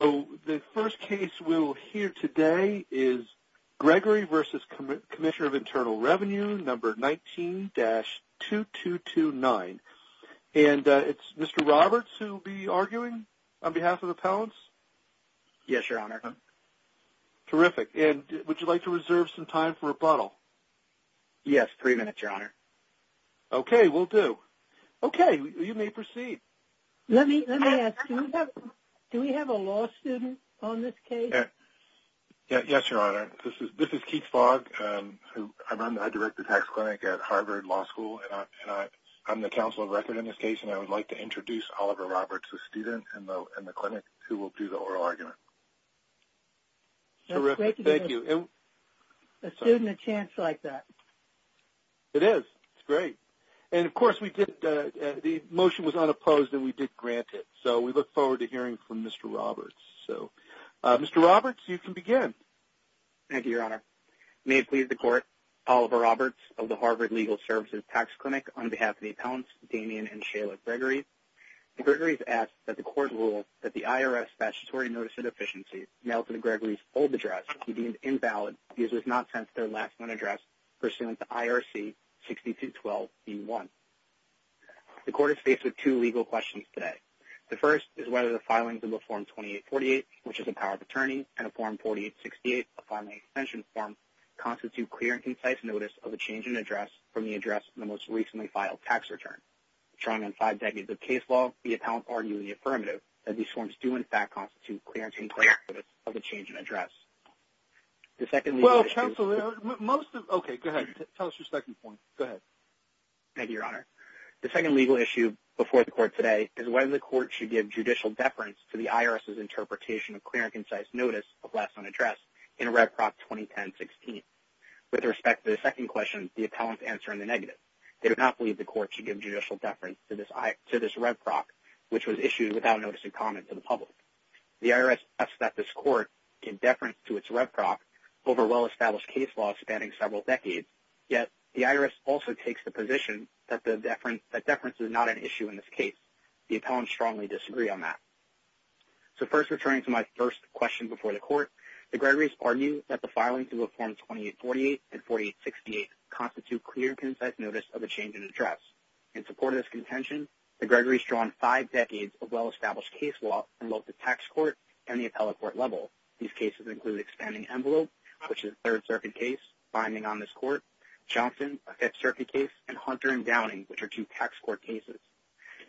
The first case we will hear today is Gregory v. Comm Internal Revenue 19-2229. And it's Mr. Roberts who will be arguing on behalf of the appellants? Yes, Your Honor. Terrific. And would you like to reserve some time for rebuttal? Yes, three minutes, Your Honor. Okay, will do. Okay, you may proceed. Let me ask, do we have a law student on this case? Yes, Your Honor. This is Keith Fogg. I direct the tax clinic at Harvard Law School. And I'm the counsel of record in this case. And I would like to introduce Oliver Roberts, the student in the clinic, who will do the oral argument. Terrific. Thank you. It's great to give a student a chance like that. It is. It's great. And, of course, the motion was unopposed and we did grant it. So we look forward to hearing from Mr. Roberts. So, Mr. Roberts, you can begin. Thank you, Your Honor. May it please the Court, Oliver Roberts of the Harvard Legal Services Tax Clinic, on behalf of the appellants, Damian and Shayla Gregory. Gregory has asked that the Court rule that the IRS statutory notice of deficiency, now to the Gregory's old address, be deemed invalid because it was not sent to their last known address, pursuant to IRC 6212B1. The Court is faced with two legal questions today. The first is whether the filings in the Form 2848, which is a power of attorney, and a Form 4868, a filing extension form, constitute clear and concise notice of a change in address from the address in the most recently filed tax return. Trying on five decades of case law, the appellants argue in the affirmative that these forms do, in fact, constitute clear and concise notice of a change in address. The second legal issue... Well, counsel, most of... Okay, go ahead. Tell us your second point. Go ahead. Thank you, Your Honor. The second legal issue before the Court today is whether the Court should give judicial deference to the IRS's interpretation of clear and concise notice of last known address in Red Prop 2010-16. With respect to the second question, the appellants answer in the negative. They do not believe the Court should give judicial deference to this Red Prop, which was issued without notice in common to the public. The IRS asks that this Court give deference to its Red Prop over well-established case law spanning several decades, yet the IRS also takes the position that deference is not an issue in this case. The appellants strongly disagree on that. The Gregory's argue that the filings of Form 2848 and 4868 constitute clear and concise notice of a change in address. In support of this contention, the Gregory's draw on five decades of well-established case law from both the tax court and the appellate court level. These cases include expanding envelope, which is a Third Circuit case, binding on this court, Johnson, a Fifth Circuit case, and Hunter and Downing, which are two tax court cases.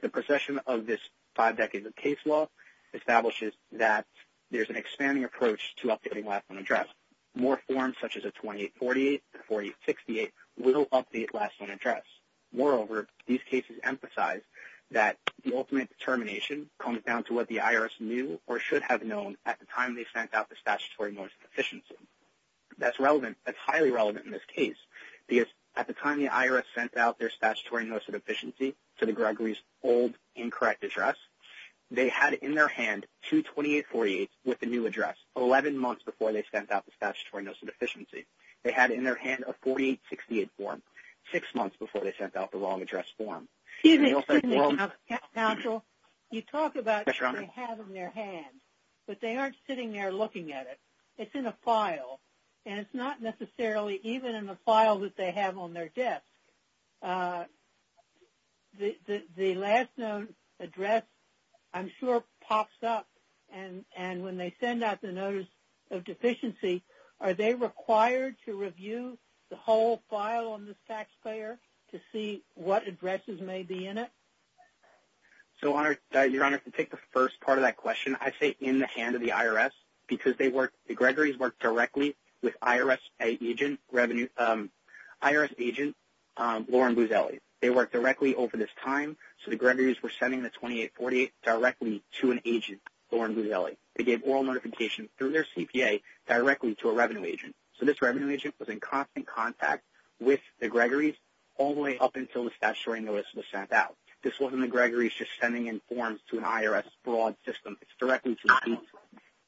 The procession of this five decades of case law establishes that there's an expanding approach to updating last known address. More forms, such as a 2848 and 4868, will update last known address. Moreover, these cases emphasize that the ultimate determination comes down to what the IRS knew or should have known at the time they sent out the statutory notice of deficiency. That's relevant. That's highly relevant in this case because at the time the IRS sent out their statutory notice of deficiency to the Gregory's old incorrect address, they had in their hand 22848 with the new address, 11 months before they sent out the statutory notice of deficiency. They had in their hand a 4868 form six months before they sent out the wrong address form. Excuse me, Counsel. You talk about what they have in their hands, but they aren't sitting there looking at it. It's in a file. And it's not necessarily even in the file that they have on their desk. The last known address, I'm sure, pops up, and when they send out the notice of deficiency, are they required to review the whole file on this taxpayer to see what addresses may be in it? So, Your Honor, to take the first part of that question, I say in the hand of the IRS because the Gregory's worked directly with IRS agent Lauren Buzzelli. They worked directly over this time, so the Gregory's were sending the 2848 directly to an agent, Lauren Buzzelli. They gave oral notification through their CPA directly to a revenue agent. So this revenue agent was in constant contact with the Gregory's all the way up until the statutory notice was sent out. This wasn't the Gregory's just sending in forms to an IRS fraud system. It's directly to you.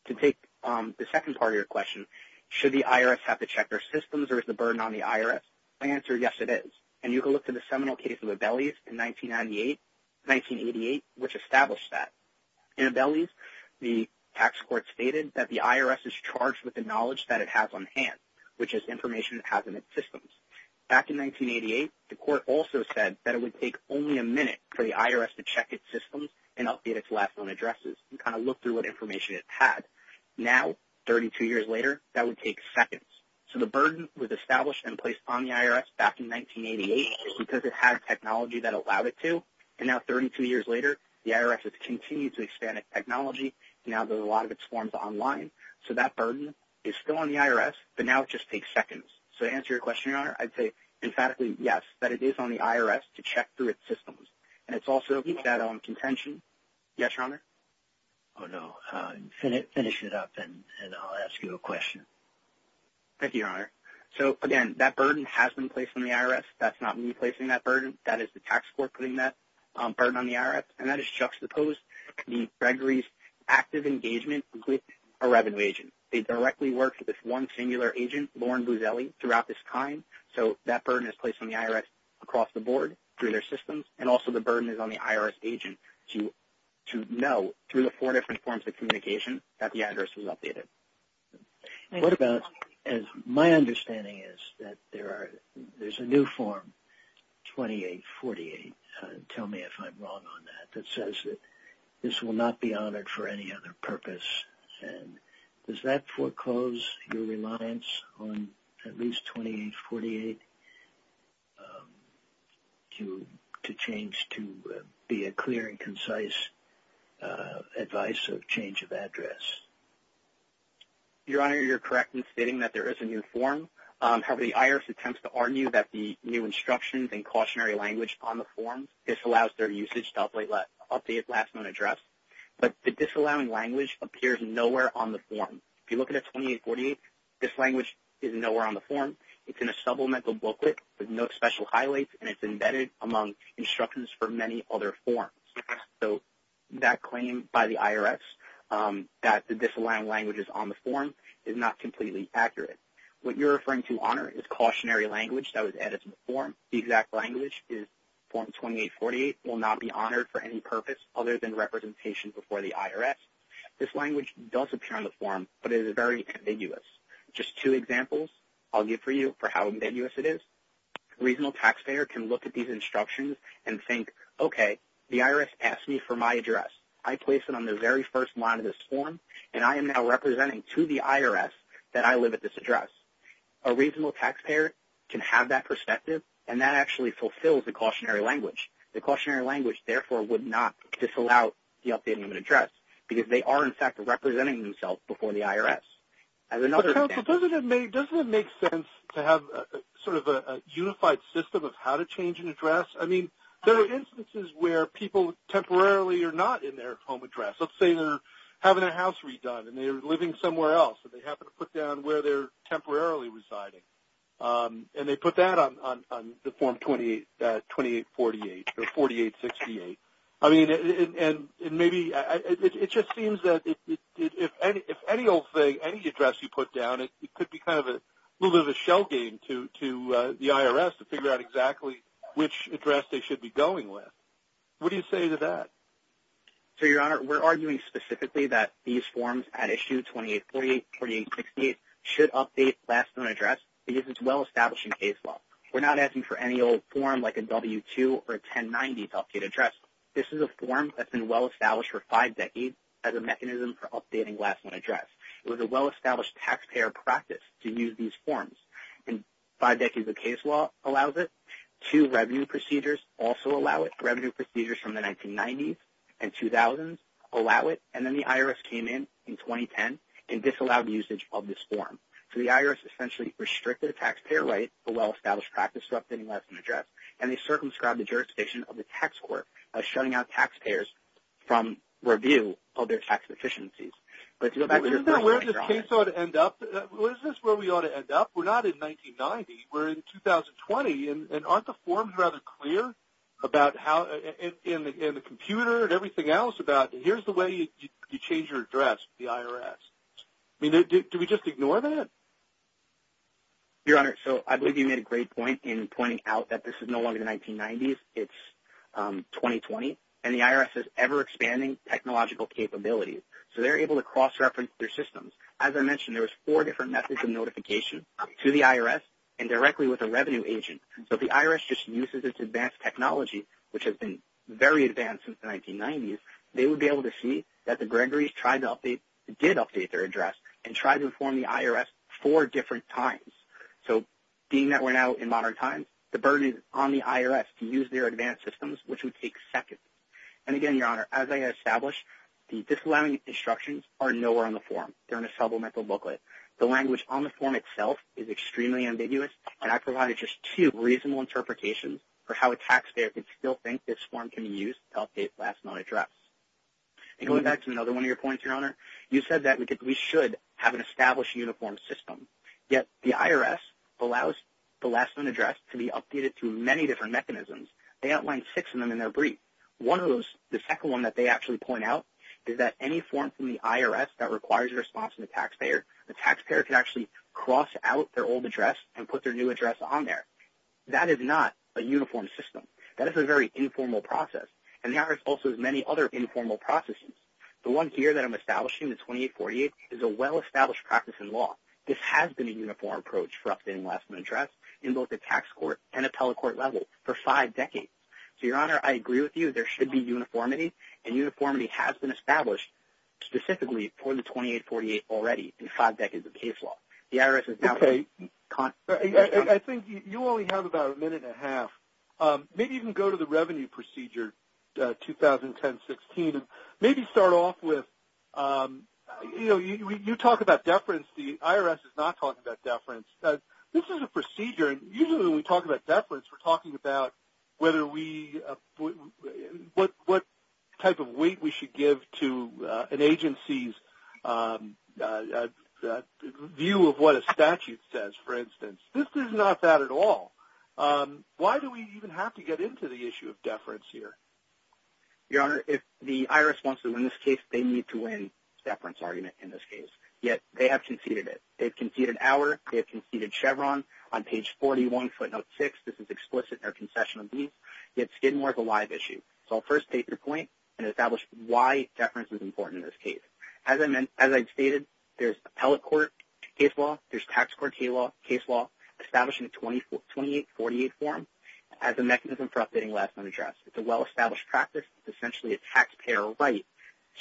To take the second part of your question, should the IRS have to check their systems or is the burden on the IRS? My answer is yes, it is. And you can look to the seminal case of Abelles in 1988, which established that. In Abelles, the tax court stated that the IRS is charged with the knowledge that it has on hand, which is information it has in its systems. Back in 1988, the court also said that it would take only a minute for the IRS to check its systems and update its last known addresses and kind of look through what information it had. Now, 32 years later, that would take seconds. So the burden was established and placed on the IRS back in 1988 because it had technology that allowed it to. And now 32 years later, the IRS has continued to expand its technology. Now there's a lot of its forms online. So that burden is still on the IRS, but now it just takes seconds. So to answer your question, Your Honor, I'd say emphatically yes, that it is on the IRS to check through its systems. And it's also that contention. Yes, Your Honor? Oh, no. Finish it up, and I'll ask you a question. Thank you, Your Honor. So, again, that burden has been placed on the IRS. That's not me placing that burden. That is the tax court putting that burden on the IRS. And that is juxtaposed to Gregory's active engagement with a revenue agent. They directly worked with one singular agent, Lauren Buzelli, throughout this time. So that burden is placed on the IRS across the board through their systems, and also the burden is on the IRS agent to know, through the four different forms of communication, that the address was updated. What about, as my understanding is, that there's a new form, 2848, tell me if I'm wrong on that, that says that this will not be honored for any other purpose. And does that foreclose your reliance on at least 2848 to change to be a clear and concise advice of change of address? Your Honor, you're correct in stating that there is a new form. However, the IRS attempts to argue that the new instructions and cautionary language on the form disallows their usage to update last known address. But the disallowing language appears nowhere on the form. If you look at it, 2848, this language is nowhere on the form. It's in a supplemental booklet with no special highlights, and it's embedded among instructions for many other forms. So that claim by the IRS that the disallowing language is on the form is not completely accurate. What you're referring to, Honor, is cautionary language that was added to the form. The exact language is form 2848, will not be honored for any purpose other than representation before the IRS. This language does appear on the form, but it is very ambiguous. Just two examples I'll give for you for how ambiguous it is. A reasonable taxpayer can look at these instructions and think, okay, the IRS asked me for my address. I placed it on the very first line of this form, and I am now representing to the IRS that I live at this address. A reasonable taxpayer can have that perspective, and that actually fulfills the cautionary language. The cautionary language, therefore, would not disallow the updating of an address because they are, in fact, representing themselves before the IRS. Doesn't it make sense to have sort of a unified system of how to change an address? I mean, there are instances where people temporarily are not in their home address. Let's say they're having their house redone, and they're living somewhere else, and they happen to put down where they're temporarily residing, and they put that on the form 2848 or 4868. I mean, and maybe it just seems that if any old thing, any address you put down, it could be kind of a little bit of a shell game to the IRS to figure out exactly which address they should be going with. What do you say to that? So, Your Honor, we're arguing specifically that these forms at issue 2848, 4868 should update last known address because it's well-established in case law. We're not asking for any old form like a W-2 or a 1090 to update address. This is a form that's been well-established for five decades as a mechanism for updating last known address. It was a well-established taxpayer practice to use these forms, and five decades of case law allows it. Two revenue procedures also allow it. Revenue procedures from the 1990s and 2000s allow it. And then the IRS came in in 2010 and disallowed usage of this form. So the IRS essentially restricted a taxpayer right, a well-established practice, for updating last known address, and they circumscribed the jurisdiction of the tax court by shutting out taxpayers from review of their tax efficiencies. Isn't that where this case ought to end up? Isn't this where we ought to end up? We're not in 1990. We're in 2020, and aren't the forms rather clear about how in the computer and everything else about here's the way you change your address with the IRS? I mean, do we just ignore that? Your Honor, so I believe you made a great point in pointing out that this is no longer the 1990s. It's 2020, and the IRS is ever-expanding technological capabilities. So they're able to cross-reference their systems. As I mentioned, there was four different methods of notification to the IRS and directly with a revenue agent. So if the IRS just uses its advanced technology, which has been very advanced since the 1990s, they would be able to see that the Gregory's did update their address and tried to inform the IRS four different times. So being that we're now in modern times, the burden is on the IRS to use their advanced systems, which would take seconds. And again, Your Honor, as I established, the disallowing instructions are nowhere on the form. They're in a supplemental booklet. The language on the form itself is extremely ambiguous, and I provided just two reasonable interpretations for how a taxpayer could still think this form can be used to update the last known address. And going back to another one of your points, Your Honor, you said that we should have an established uniform system. Yet the IRS allows the last known address to be updated through many different mechanisms. They outlined six of them in their brief. One of those, the second one that they actually point out, is that any form from the IRS that requires a response from the taxpayer, the taxpayer could actually cross out their old address and put their new address on there. That is not a uniform system. That is a very informal process. And the IRS also has many other informal processes. The one here that I'm establishing, the 2848, is a well-established practice in law. This has been a uniform approach for updating the last known address in both the tax court and appellate court level for five decades. So, Your Honor, I agree with you. I think that there should be uniformity, and uniformity has been established specifically for the 2848 already in five decades of case law. The IRS is now saying you can't. I think you only have about a minute and a half. Maybe you can go to the revenue procedure 2010-16 and maybe start off with, you know, you talk about deference. The IRS is not talking about deference. This is a procedure, and usually when we talk about deference, we're talking about what type of weight we should give to an agency's view of what a statute says, for instance. This is not that at all. Why do we even have to get into the issue of deference here? Your Honor, if the IRS wants to win this case, they need to win deference argument in this case. Yet they have conceded it. They've conceded Auer. They've conceded Chevron. On page 41, footnote 6, this is explicit in their concession of these. Yet Skidmore is a live issue. So I'll first take your point and establish why deference is important in this case. As I stated, there's appellate court case law, there's tax court case law, establishing a 2848 form as a mechanism for updating last known address. It's a well-established practice. It's essentially a taxpayer right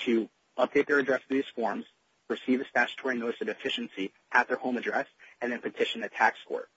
to update their address in these forms, receive a statutory notice of deficiency at their home address, and then petition the tax court.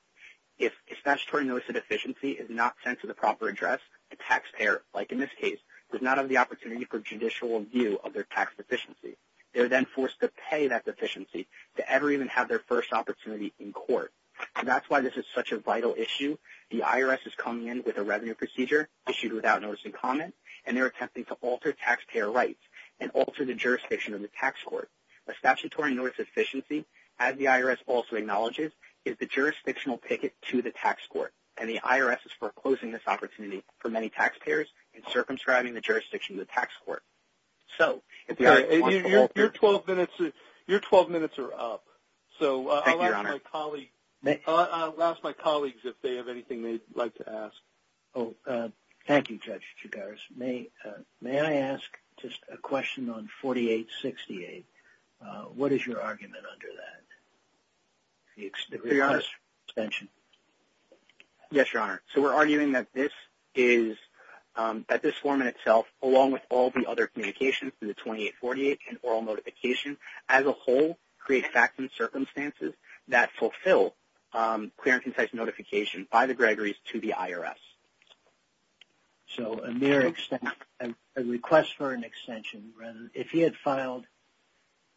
If a statutory notice of deficiency is not sent to the proper address, the taxpayer, like in this case, does not have the opportunity for judicial review of their tax deficiency. They're then forced to pay that deficiency to ever even have their first opportunity in court. And that's why this is such a vital issue. The IRS is coming in with a revenue procedure issued without notice and comment, and they're attempting to alter taxpayer rights and alter the jurisdiction of the tax court. A statutory notice of deficiency, as the IRS also acknowledges, is the jurisdictional ticket to the tax court, and the IRS is foreclosing this opportunity for many taxpayers and circumscribing the jurisdiction to the tax court. So if the IRS wants to alter it. Your 12 minutes are up. So I'll ask my colleagues if they have anything they'd like to ask. Thank you, Judge Chigaris. May I ask just a question on 4868? What is your argument under that? Yes, Your Honor. So we're arguing that this form in itself, along with all the other communications, the 2848 and oral notification as a whole, create facts and circumstances that fulfill clear and concise notification by the Gregory's to the IRS. So a mere request for an extension. If he had filed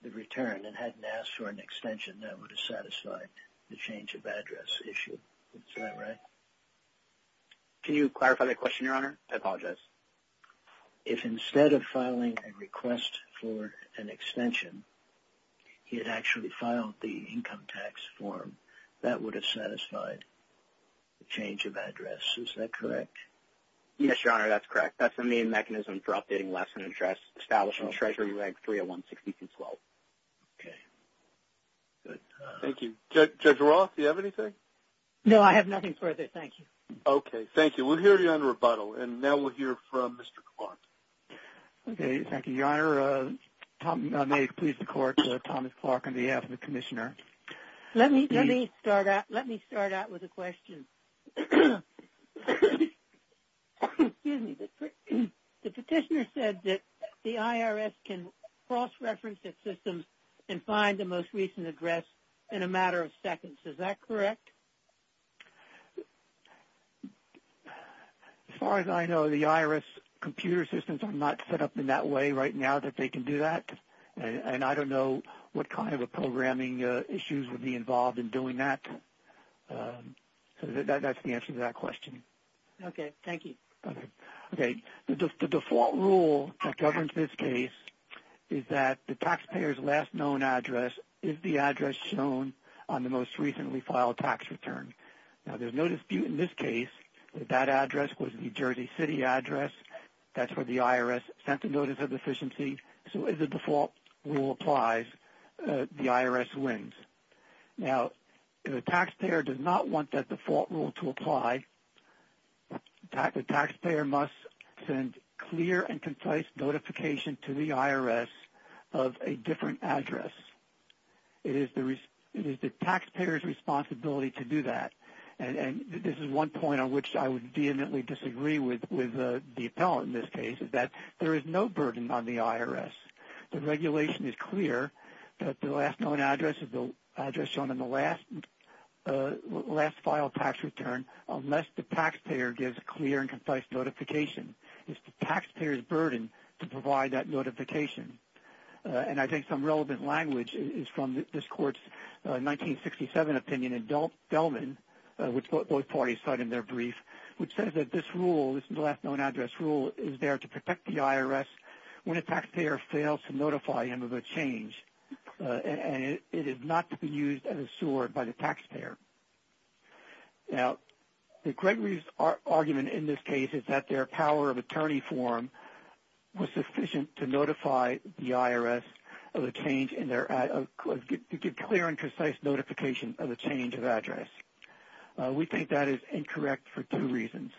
the return and hadn't asked for an extension, that would have satisfied the change of address issue. Is that right? I apologize. If instead of filing a request for an extension, he had actually filed the income tax form, that would have satisfied the change of address. Is that correct? Yes, Your Honor. That's correct. That's the main mechanism for updating less than address established in Treasury Reg 30162-12. Okay. Good. Thank you. Judge Roth, do you have anything? No, I have nothing further. Thank you. Okay. Thank you. We'll hear you on rebuttal, and now we'll hear from Mr. Clark. Okay. Thank you, Your Honor. May it please the Court, Thomas Clark on behalf of the Commissioner. Let me start out with a question. Excuse me. The Petitioner said that the IRS can cross-reference its systems and find the most recent address in a matter of seconds. Is that correct? As far as I know, the IRS computer systems are not set up in that way right now that they can do that, and I don't know what kind of programming issues would be involved in doing that. So that's the answer to that question. Okay. Thank you. Okay. The default rule that governs this case is that the taxpayer's last known address is the address shown on the most recently filed tax return. Now, there's no dispute in this case that that address was the Jersey City address. That's where the IRS sent the notice of deficiency. So if the default rule applies, the IRS wins. Now, if a taxpayer does not want that default rule to apply, the taxpayer must send clear and concise notification to the IRS of a different address. It is the taxpayer's responsibility to do that. And this is one point on which I would vehemently disagree with the appellant in this case, is that there is no burden on the IRS. The regulation is clear that the last known address is the address shown on the last filed tax return unless the taxpayer gives a clear and concise notification. It's the taxpayer's burden to provide that notification. And I think some relevant language is from this Court's 1967 opinion in Delman, which both parties cite in their brief, which says that this rule, this last known address rule, is there to protect the IRS when a taxpayer fails to notify him of a change. And it is not to be used as a sword by the taxpayer. Now, Gregory's argument in this case is that their power of attorney form was sufficient to notify the IRS of a change in their clear and concise notification of a change of address. We think that is incorrect for two reasons.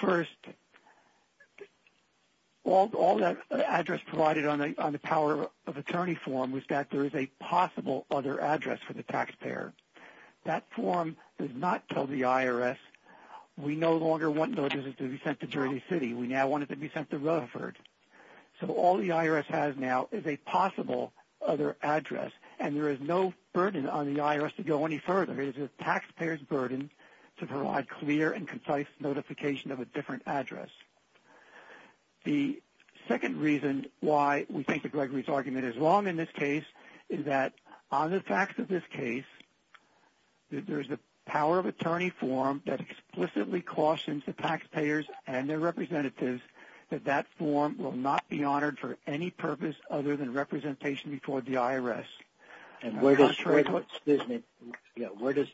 First, all that address provided on the power of attorney form was that there is a possible other address for the taxpayer. That form does not tell the IRS we no longer want notices to be sent to Dirty City. We now want it to be sent to Rutherford. So all the IRS has now is a possible other address, and there is no burden on the IRS to go any further. It is the taxpayer's burden to provide clear and concise notification of a different address. The second reason why we think that Gregory's argument is wrong in this case is that on the facts of this case, there is a power of attorney form that explicitly cautions the taxpayers and their representatives that that form will not be honored for any purpose other than representation before the IRS. And where does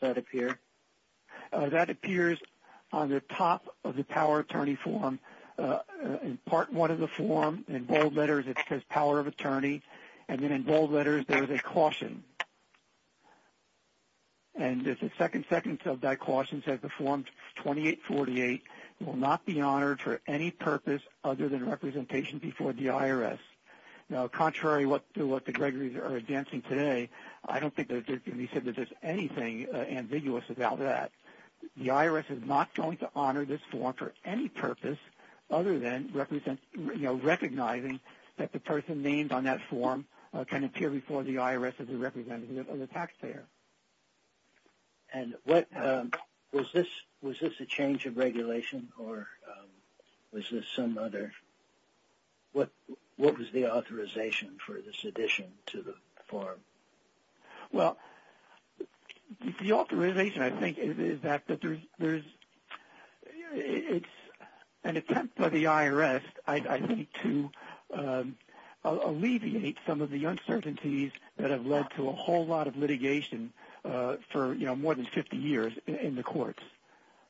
that appear? That appears on the top of the power of attorney form. In part one of the form, in bold letters, it says power of attorney, and then in bold letters, there is a caution. And the second sentence of that caution says the form 2848 will not be honored for any purpose other than representation before the IRS. Contrary to what the Gregory's are advancing today, I don't think it can be said that there is anything ambiguous about that. The IRS is not going to honor this form for any purpose other than recognizing that the person named on that form can appear before the IRS as a representative of the taxpayer. And was this a change of regulation or was this some other? What was the authorization for this addition to the form? Well, the authorization, I think, is that there's an attempt by the IRS, I think, to alleviate some of the uncertainties that have led to a whole lot of litigation for more than 50 years in the courts.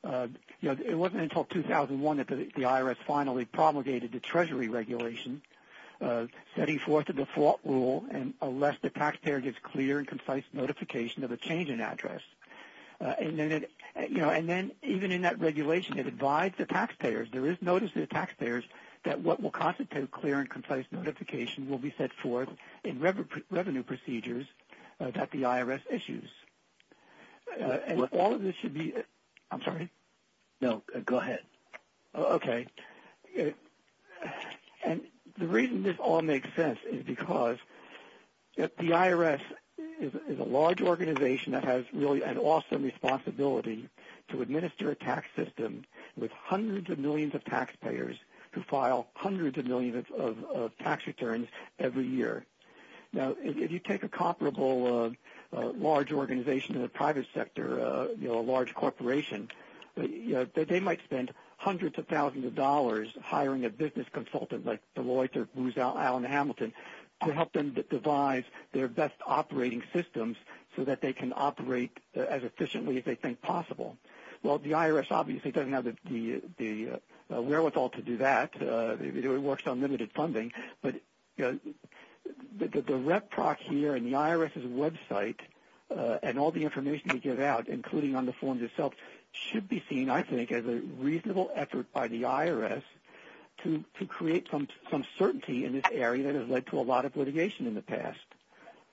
It wasn't until 2001 that the IRS finally promulgated the Treasury Regulation, setting forth the default rule unless the taxpayer gets clear and concise notification of a change in address. There is notice to the taxpayers that what will constitute clear and concise notification will be set forth in revenue procedures that the IRS issues. The reason this all makes sense is because the IRS is a large organization that has really an awesome responsibility to administer a tax system with hundreds of millions of taxpayers who file hundreds of millions of tax returns every year. Now, if you take a comparable large organization in the private sector, a large corporation, they might spend hundreds of thousands of dollars hiring a business consultant like Deloitte or Booz Allen Hamilton to help them devise their best operating systems so that they can operate as efficiently as they think possible. Well, the IRS obviously doesn't have the wherewithal to do that. It works on limited funding. But the rep proc here and the IRS's website and all the information we give out, including on the forms itself, should be seen, I think, as a reasonable effort by the IRS to create some certainty in this area that has led to a lot of litigation in the past.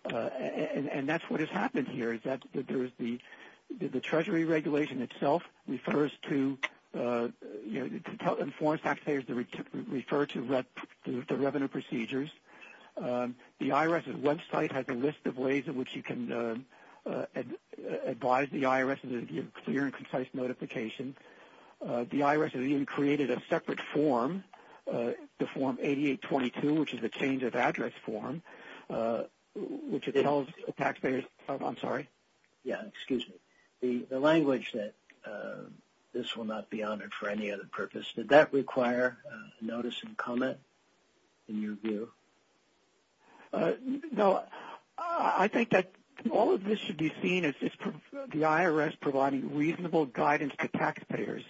And that's what has happened here, is that the Treasury regulation itself refers to and informs taxpayers to refer to the revenue procedures. The IRS's website has a list of ways in which you can advise the IRS and give clear and concise notification. The IRS has even created a separate form, the Form 8822, which is a change of address form, which tells taxpayers... I'm sorry. Yeah, excuse me. The language that this will not be honored for any other purpose, did that require notice and comment in your view? No. I think that all of this should be seen as the IRS providing reasonable guidance to taxpayers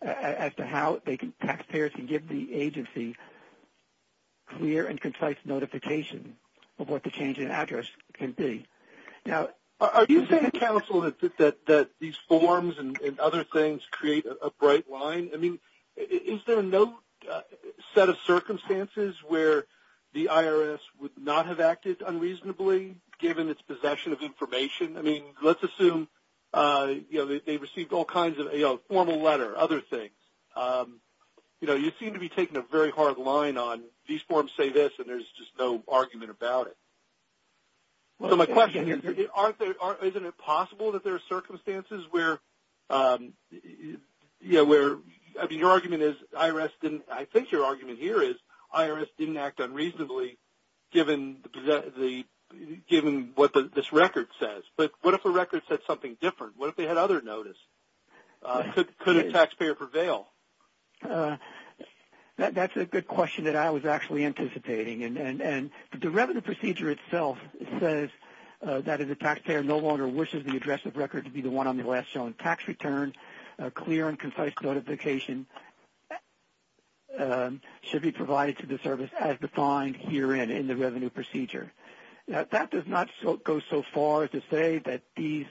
as to how taxpayers can give the agency clear and concise notification of what the change in address can be. Are you saying, counsel, that these forms and other things create a bright line? I mean, is there no set of circumstances where the IRS would not have acted unreasonably, given its possession of information? I mean, let's assume they received all kinds of formal letter, other things. You know, you seem to be taking a very hard line on, these forms say this and there's just no argument about it. So my question is, isn't it possible that there are circumstances where, I mean, your argument is, I think your argument here is, given what this record says. But what if the record said something different? What if they had other notice? Could a taxpayer prevail? That's a good question that I was actually anticipating. And the revenue procedure itself says that if the taxpayer no longer wishes the address of record to be the one on the last shown tax return, a clear and concise notification should be provided to the service as defined herein in the revenue procedure. That does not go so far as to say that these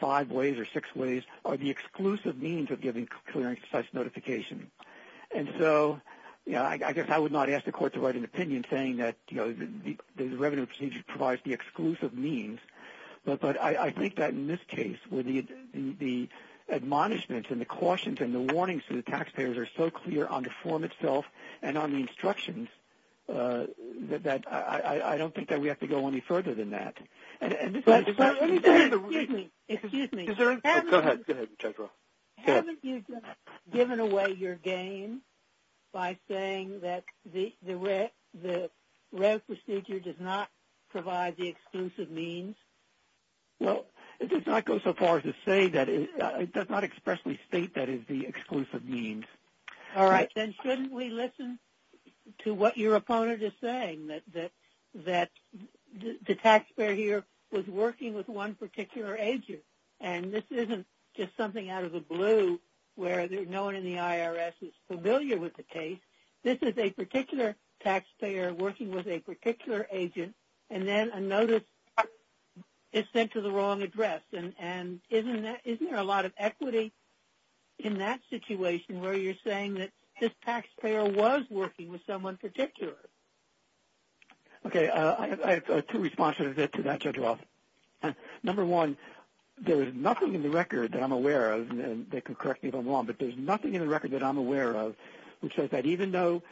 five ways or six ways are the exclusive means of giving clear and concise notification. And so, you know, I guess I would not ask the court to write an opinion saying that, you know, the revenue procedure provides the exclusive means. But I think that in this case where the admonishments and the cautions and the warnings to the taxpayers are so clear on the form itself and on the instructions that I don't think that we have to go any further than that. Excuse me. Go ahead, Judge Rowe. Haven't you just given away your game by saying that the revenue procedure does not provide the exclusive means? Well, it does not go so far as to say that it does not expressly state that it is the exclusive means. All right. Then shouldn't we listen to what your opponent is saying, that the taxpayer here was working with one particular agent and this isn't just something out of the blue where no one in the IRS is familiar with the case. This is a particular taxpayer working with a particular agent and then a notice is sent to the wrong address. And isn't there a lot of equity in that situation where you're saying that this taxpayer was working with someone particular? Okay, I have two responses to that, Judge Rowe. Number one, there is nothing in the record that I'm aware of, and they can correct me if I'm wrong, but there's nothing in the record that I'm aware of which says that even though,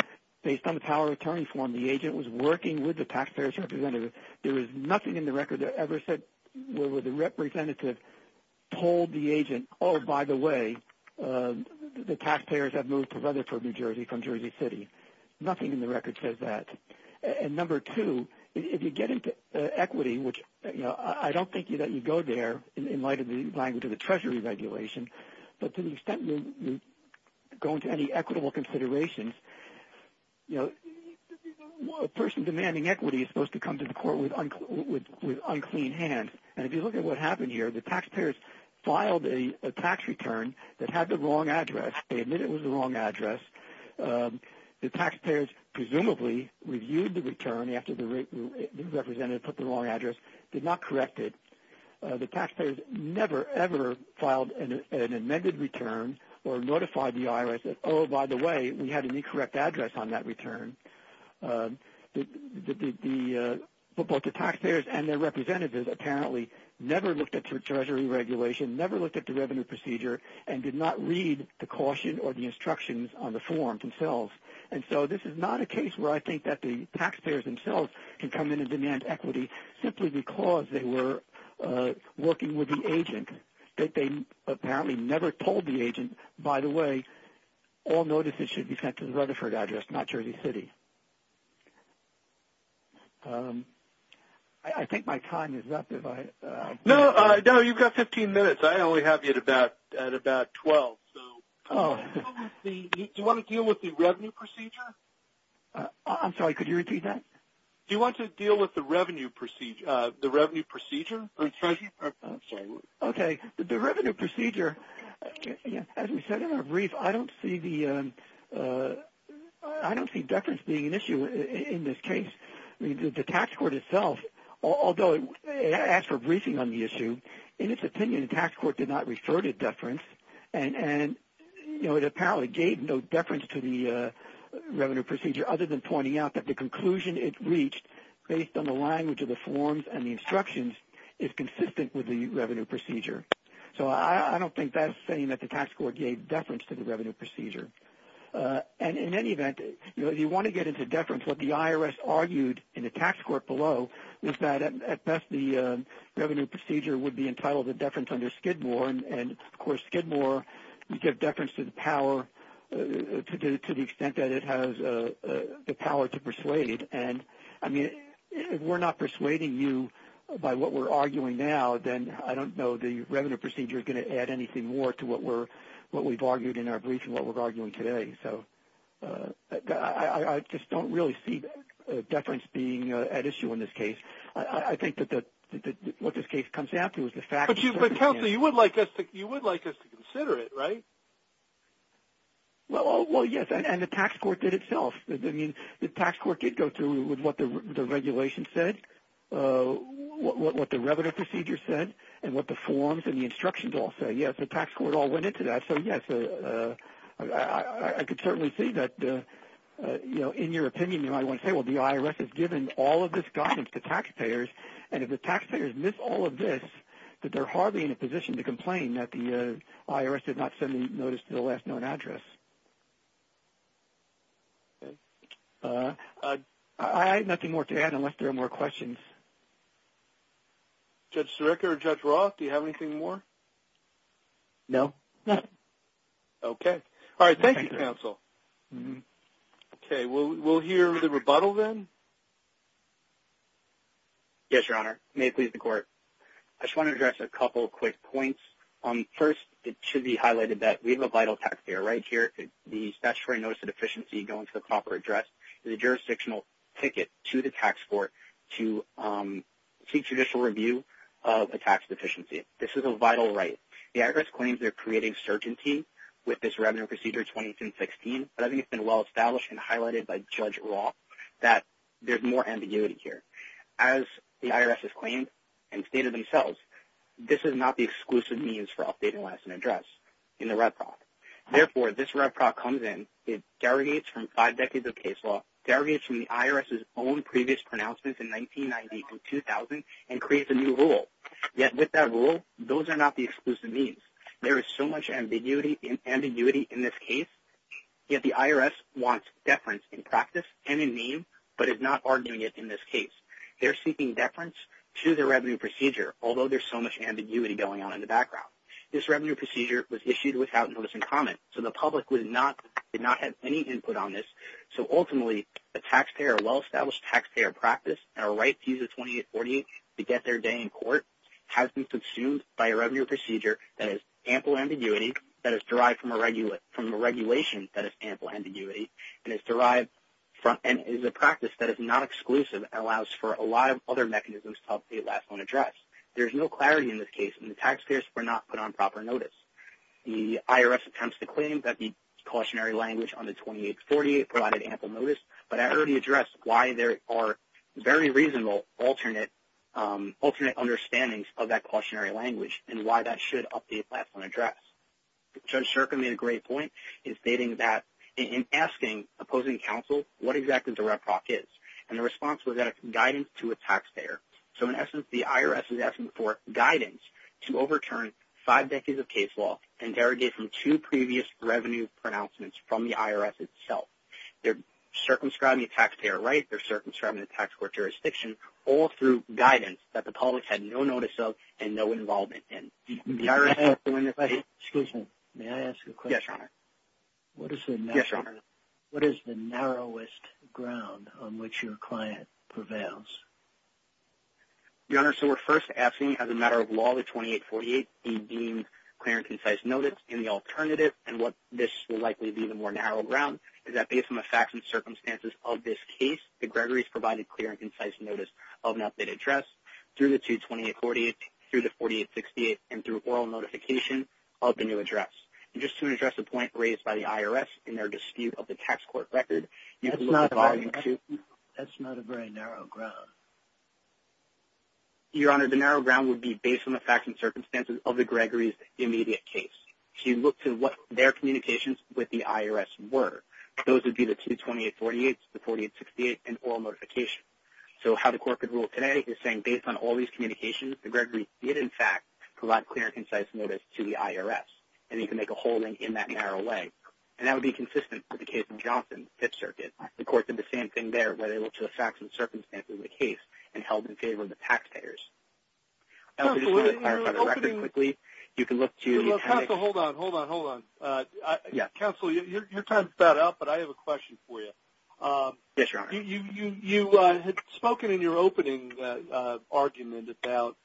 based on the power of attorney form, the agent was working with the taxpayer's representative, there is nothing in the record that ever said where the representative told the agent, oh, by the way, the taxpayers have moved to Rutherford, New Jersey, from Jersey City. Nothing in the record says that. And number two, if you get into equity, which I don't think that you go there in light of the language of the Treasury Regulation, but to the extent you go into any equitable considerations, a person demanding equity is supposed to come to the court with unclean hands. And if you look at what happened here, the taxpayers filed a tax return that had the wrong address. They admit it was the wrong address. The taxpayers presumably reviewed the return after the representative put the wrong address, did not correct it. The taxpayers never, ever filed an amended return or notified the IRS, oh, by the way, we had an incorrect address on that return. But both the taxpayers and their representatives apparently never looked at the Treasury Regulation, never looked at the revenue procedure, and did not read the caution or the instructions on the form themselves. And so this is not a case where I think that the taxpayers themselves can come in and demand equity simply because they were working with the agent. They apparently never told the agent, by the way, all notices should be sent to the Rutherford address, not Jersey City. I think my time is up. No, you've got 15 minutes. I only have you at about 12. Do you want to deal with the revenue procedure? I'm sorry, could you repeat that? Do you want to deal with the revenue procedure? Okay, the revenue procedure, as we said in our brief, I don't see deference being an issue in this case. The tax court itself, although it asked for a briefing on the issue, in its opinion the tax court did not refer to deference and it apparently gave no deference to the revenue procedure other than pointing out that the conclusion it reached, based on the language of the forms and the instructions, is consistent with the revenue procedure. So I don't think that's saying that the tax court gave deference to the revenue procedure. And in any event, if you want to get into deference, what the IRS argued in the tax court below is that at best the revenue procedure would be entitled to deference under Skidmore, and of course Skidmore would give deference to the extent that it has the power to persuade. And if we're not persuading you by what we're arguing now, then I don't know the revenue procedure is going to add anything more to what we've argued in our brief and what we're arguing today. So I just don't really see deference being at issue in this case. I think that what this case comes down to is the facts. But, Counselor, you would like us to consider it, right? Well, yes, and the tax court did itself. I mean, the tax court did go through with what the regulation said, what the revenue procedure said, and what the forms and the instructions all say. And, yes, the tax court all went into that. So, yes, I could certainly see that, you know, in your opinion, you might want to say, well, the IRS has given all of this guidance to taxpayers, and if the taxpayers miss all of this, that they're hardly in a position to complain that the IRS did not send the notice to the last known address. I have nothing more to add unless there are more questions. Judge Sirica or Judge Roth, do you have anything more? No, nothing. Okay. All right. Thank you, Counsel. Okay. We'll hear the rebuttal then. Yes, Your Honor. May it please the Court. I just want to address a couple of quick points. First, it should be highlighted that we have a vital taxpayer right here. The statutory notice of deficiency going to the proper address is a jurisdictional ticket to the tax court to seek judicial review of a tax deficiency. This is a vital right. The IRS claims they're creating certainty with this revenue procedure 2016, but I think it's been well-established and highlighted by Judge Roth that there's more ambiguity here. As the IRS has claimed and stated themselves, this is not the exclusive means for updating last known address in the REBPROC. Therefore, this REBPROC comes in, it derogates from five decades of case law, derogates from the IRS's own previous pronouncements in 1990 to 2000, and creates a new rule. Yet with that rule, those are not the exclusive means. There is so much ambiguity in this case, yet the IRS wants deference in practice and in name but is not arguing it in this case. They're seeking deference to the revenue procedure, although there's so much ambiguity going on in the background. This revenue procedure was issued without notice and comment, so the public did not have any input on this. So ultimately, a taxpayer, a well-established taxpayer practice, and a right to use a 2848 to get their day in court has been consumed by a revenue procedure that is ample ambiguity, that is derived from a regulation that is ample ambiguity, and is a practice that is not exclusive and allows for a lot of other mechanisms to update last known address. There's no clarity in this case, and the taxpayers were not put on proper notice. The IRS attempts to claim that the cautionary language on the 2848 provided ample notice, but I already addressed why there are very reasonable alternate understandings of that cautionary language and why that should update last known address. Judge Shurkin made a great point in stating that in asking opposing counsel what exactly the reproc is, and the response was that it's guidance to a taxpayer. So in essence, the IRS is asking for guidance to overturn five decades of case law and derogate from two previous revenue pronouncements from the IRS itself. They're circumscribing a taxpayer right, they're circumscribing a tax court jurisdiction, all through guidance that the public had no notice of and no involvement in. Excuse me, may I ask a question? Yes, Your Honor. Yes, Your Honor. What is the narrowest ground on which your client prevails? Your Honor, so we're first asking, as a matter of law, the 2848 be deemed clear and concise notice, and the alternative, and what this will likely be the more narrow ground, is that based on the facts and circumstances of this case, that Gregory's provided clear and concise notice of an updated address through the 2848, through the 4868, and through oral notification of the new address. And just to address the point raised by the IRS in their dispute of the tax court record. That's not a very narrow ground. Your Honor, the narrow ground would be based on the facts and circumstances of the Gregory's immediate case. So you look to what their communications with the IRS were. Those would be the 22848, the 4868, and oral notification. So how the court could rule today is saying, based on all these communications, that Gregory did, in fact, provide clear and concise notice to the IRS. And he can make a holding in that narrow way. And that would be consistent with the case in Johnson, Pitt Circuit. The court did the same thing there, where they looked to the facts and circumstances of the case, and held in favor of the taxpayers. Counsel, hold on, hold on, hold on. Counsel, your time's about up, but I have a question for you. Yes, Your Honor. You had spoken in your opening argument about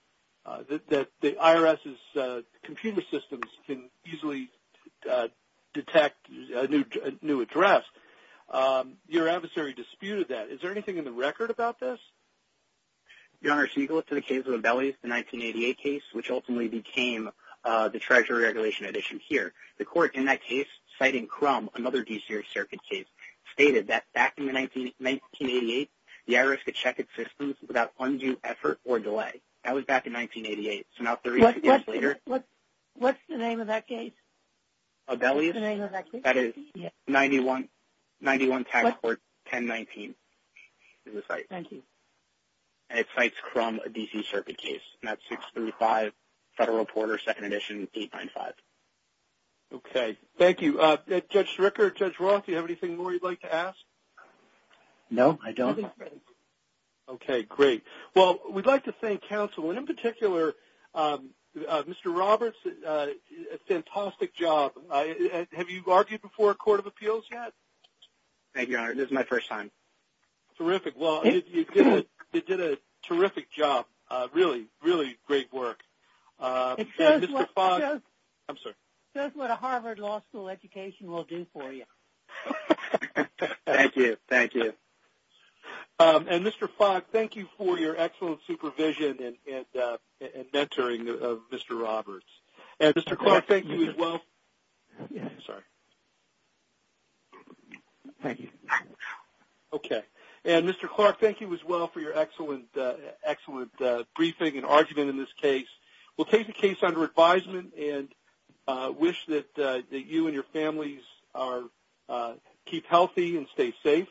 that the IRS's computer systems can easily detect a new address. Your adversary disputed that. Is there anything in the record about this? Your Honor, so you go up to the case of the Bellies, the 1988 case, which ultimately became the Treasury Regulation addition here. The court, in that case, citing Crum, another D.C. Circuit case, stated that back in 1988 the IRS could check its systems without undue effort or delay. That was back in 1988. So now 32 years later. What's the name of that case? The Bellies? What's the name of that case? That is 91 Tax Court 1019 is the site. And it cites Crum, a D.C. Circuit case. And that's 635 Federal Porter, 2nd Edition, 895. Okay. Thank you. Judge Stricker, Judge Roth, do you have anything more you'd like to ask? No, I don't. Okay, great. Well, we'd like to thank counsel. And in particular, Mr. Roberts, a fantastic job. Have you argued before a court of appeals yet? Thank you, Your Honor. This is my first time. Terrific. Well, you did a terrific job. Really, really great work. It shows what a Harvard Law School education will do for you. Thank you. Thank you. And, Mr. Fogg, thank you for your excellent supervision and mentoring of Mr. Roberts. And, Mr. Clark, thank you as well. Thank you. Okay. And, Mr. Clark, thank you as well for your excellent briefing and argument in this case. We'll take the case under advisement and wish that you and your families keep healthy and stay safe.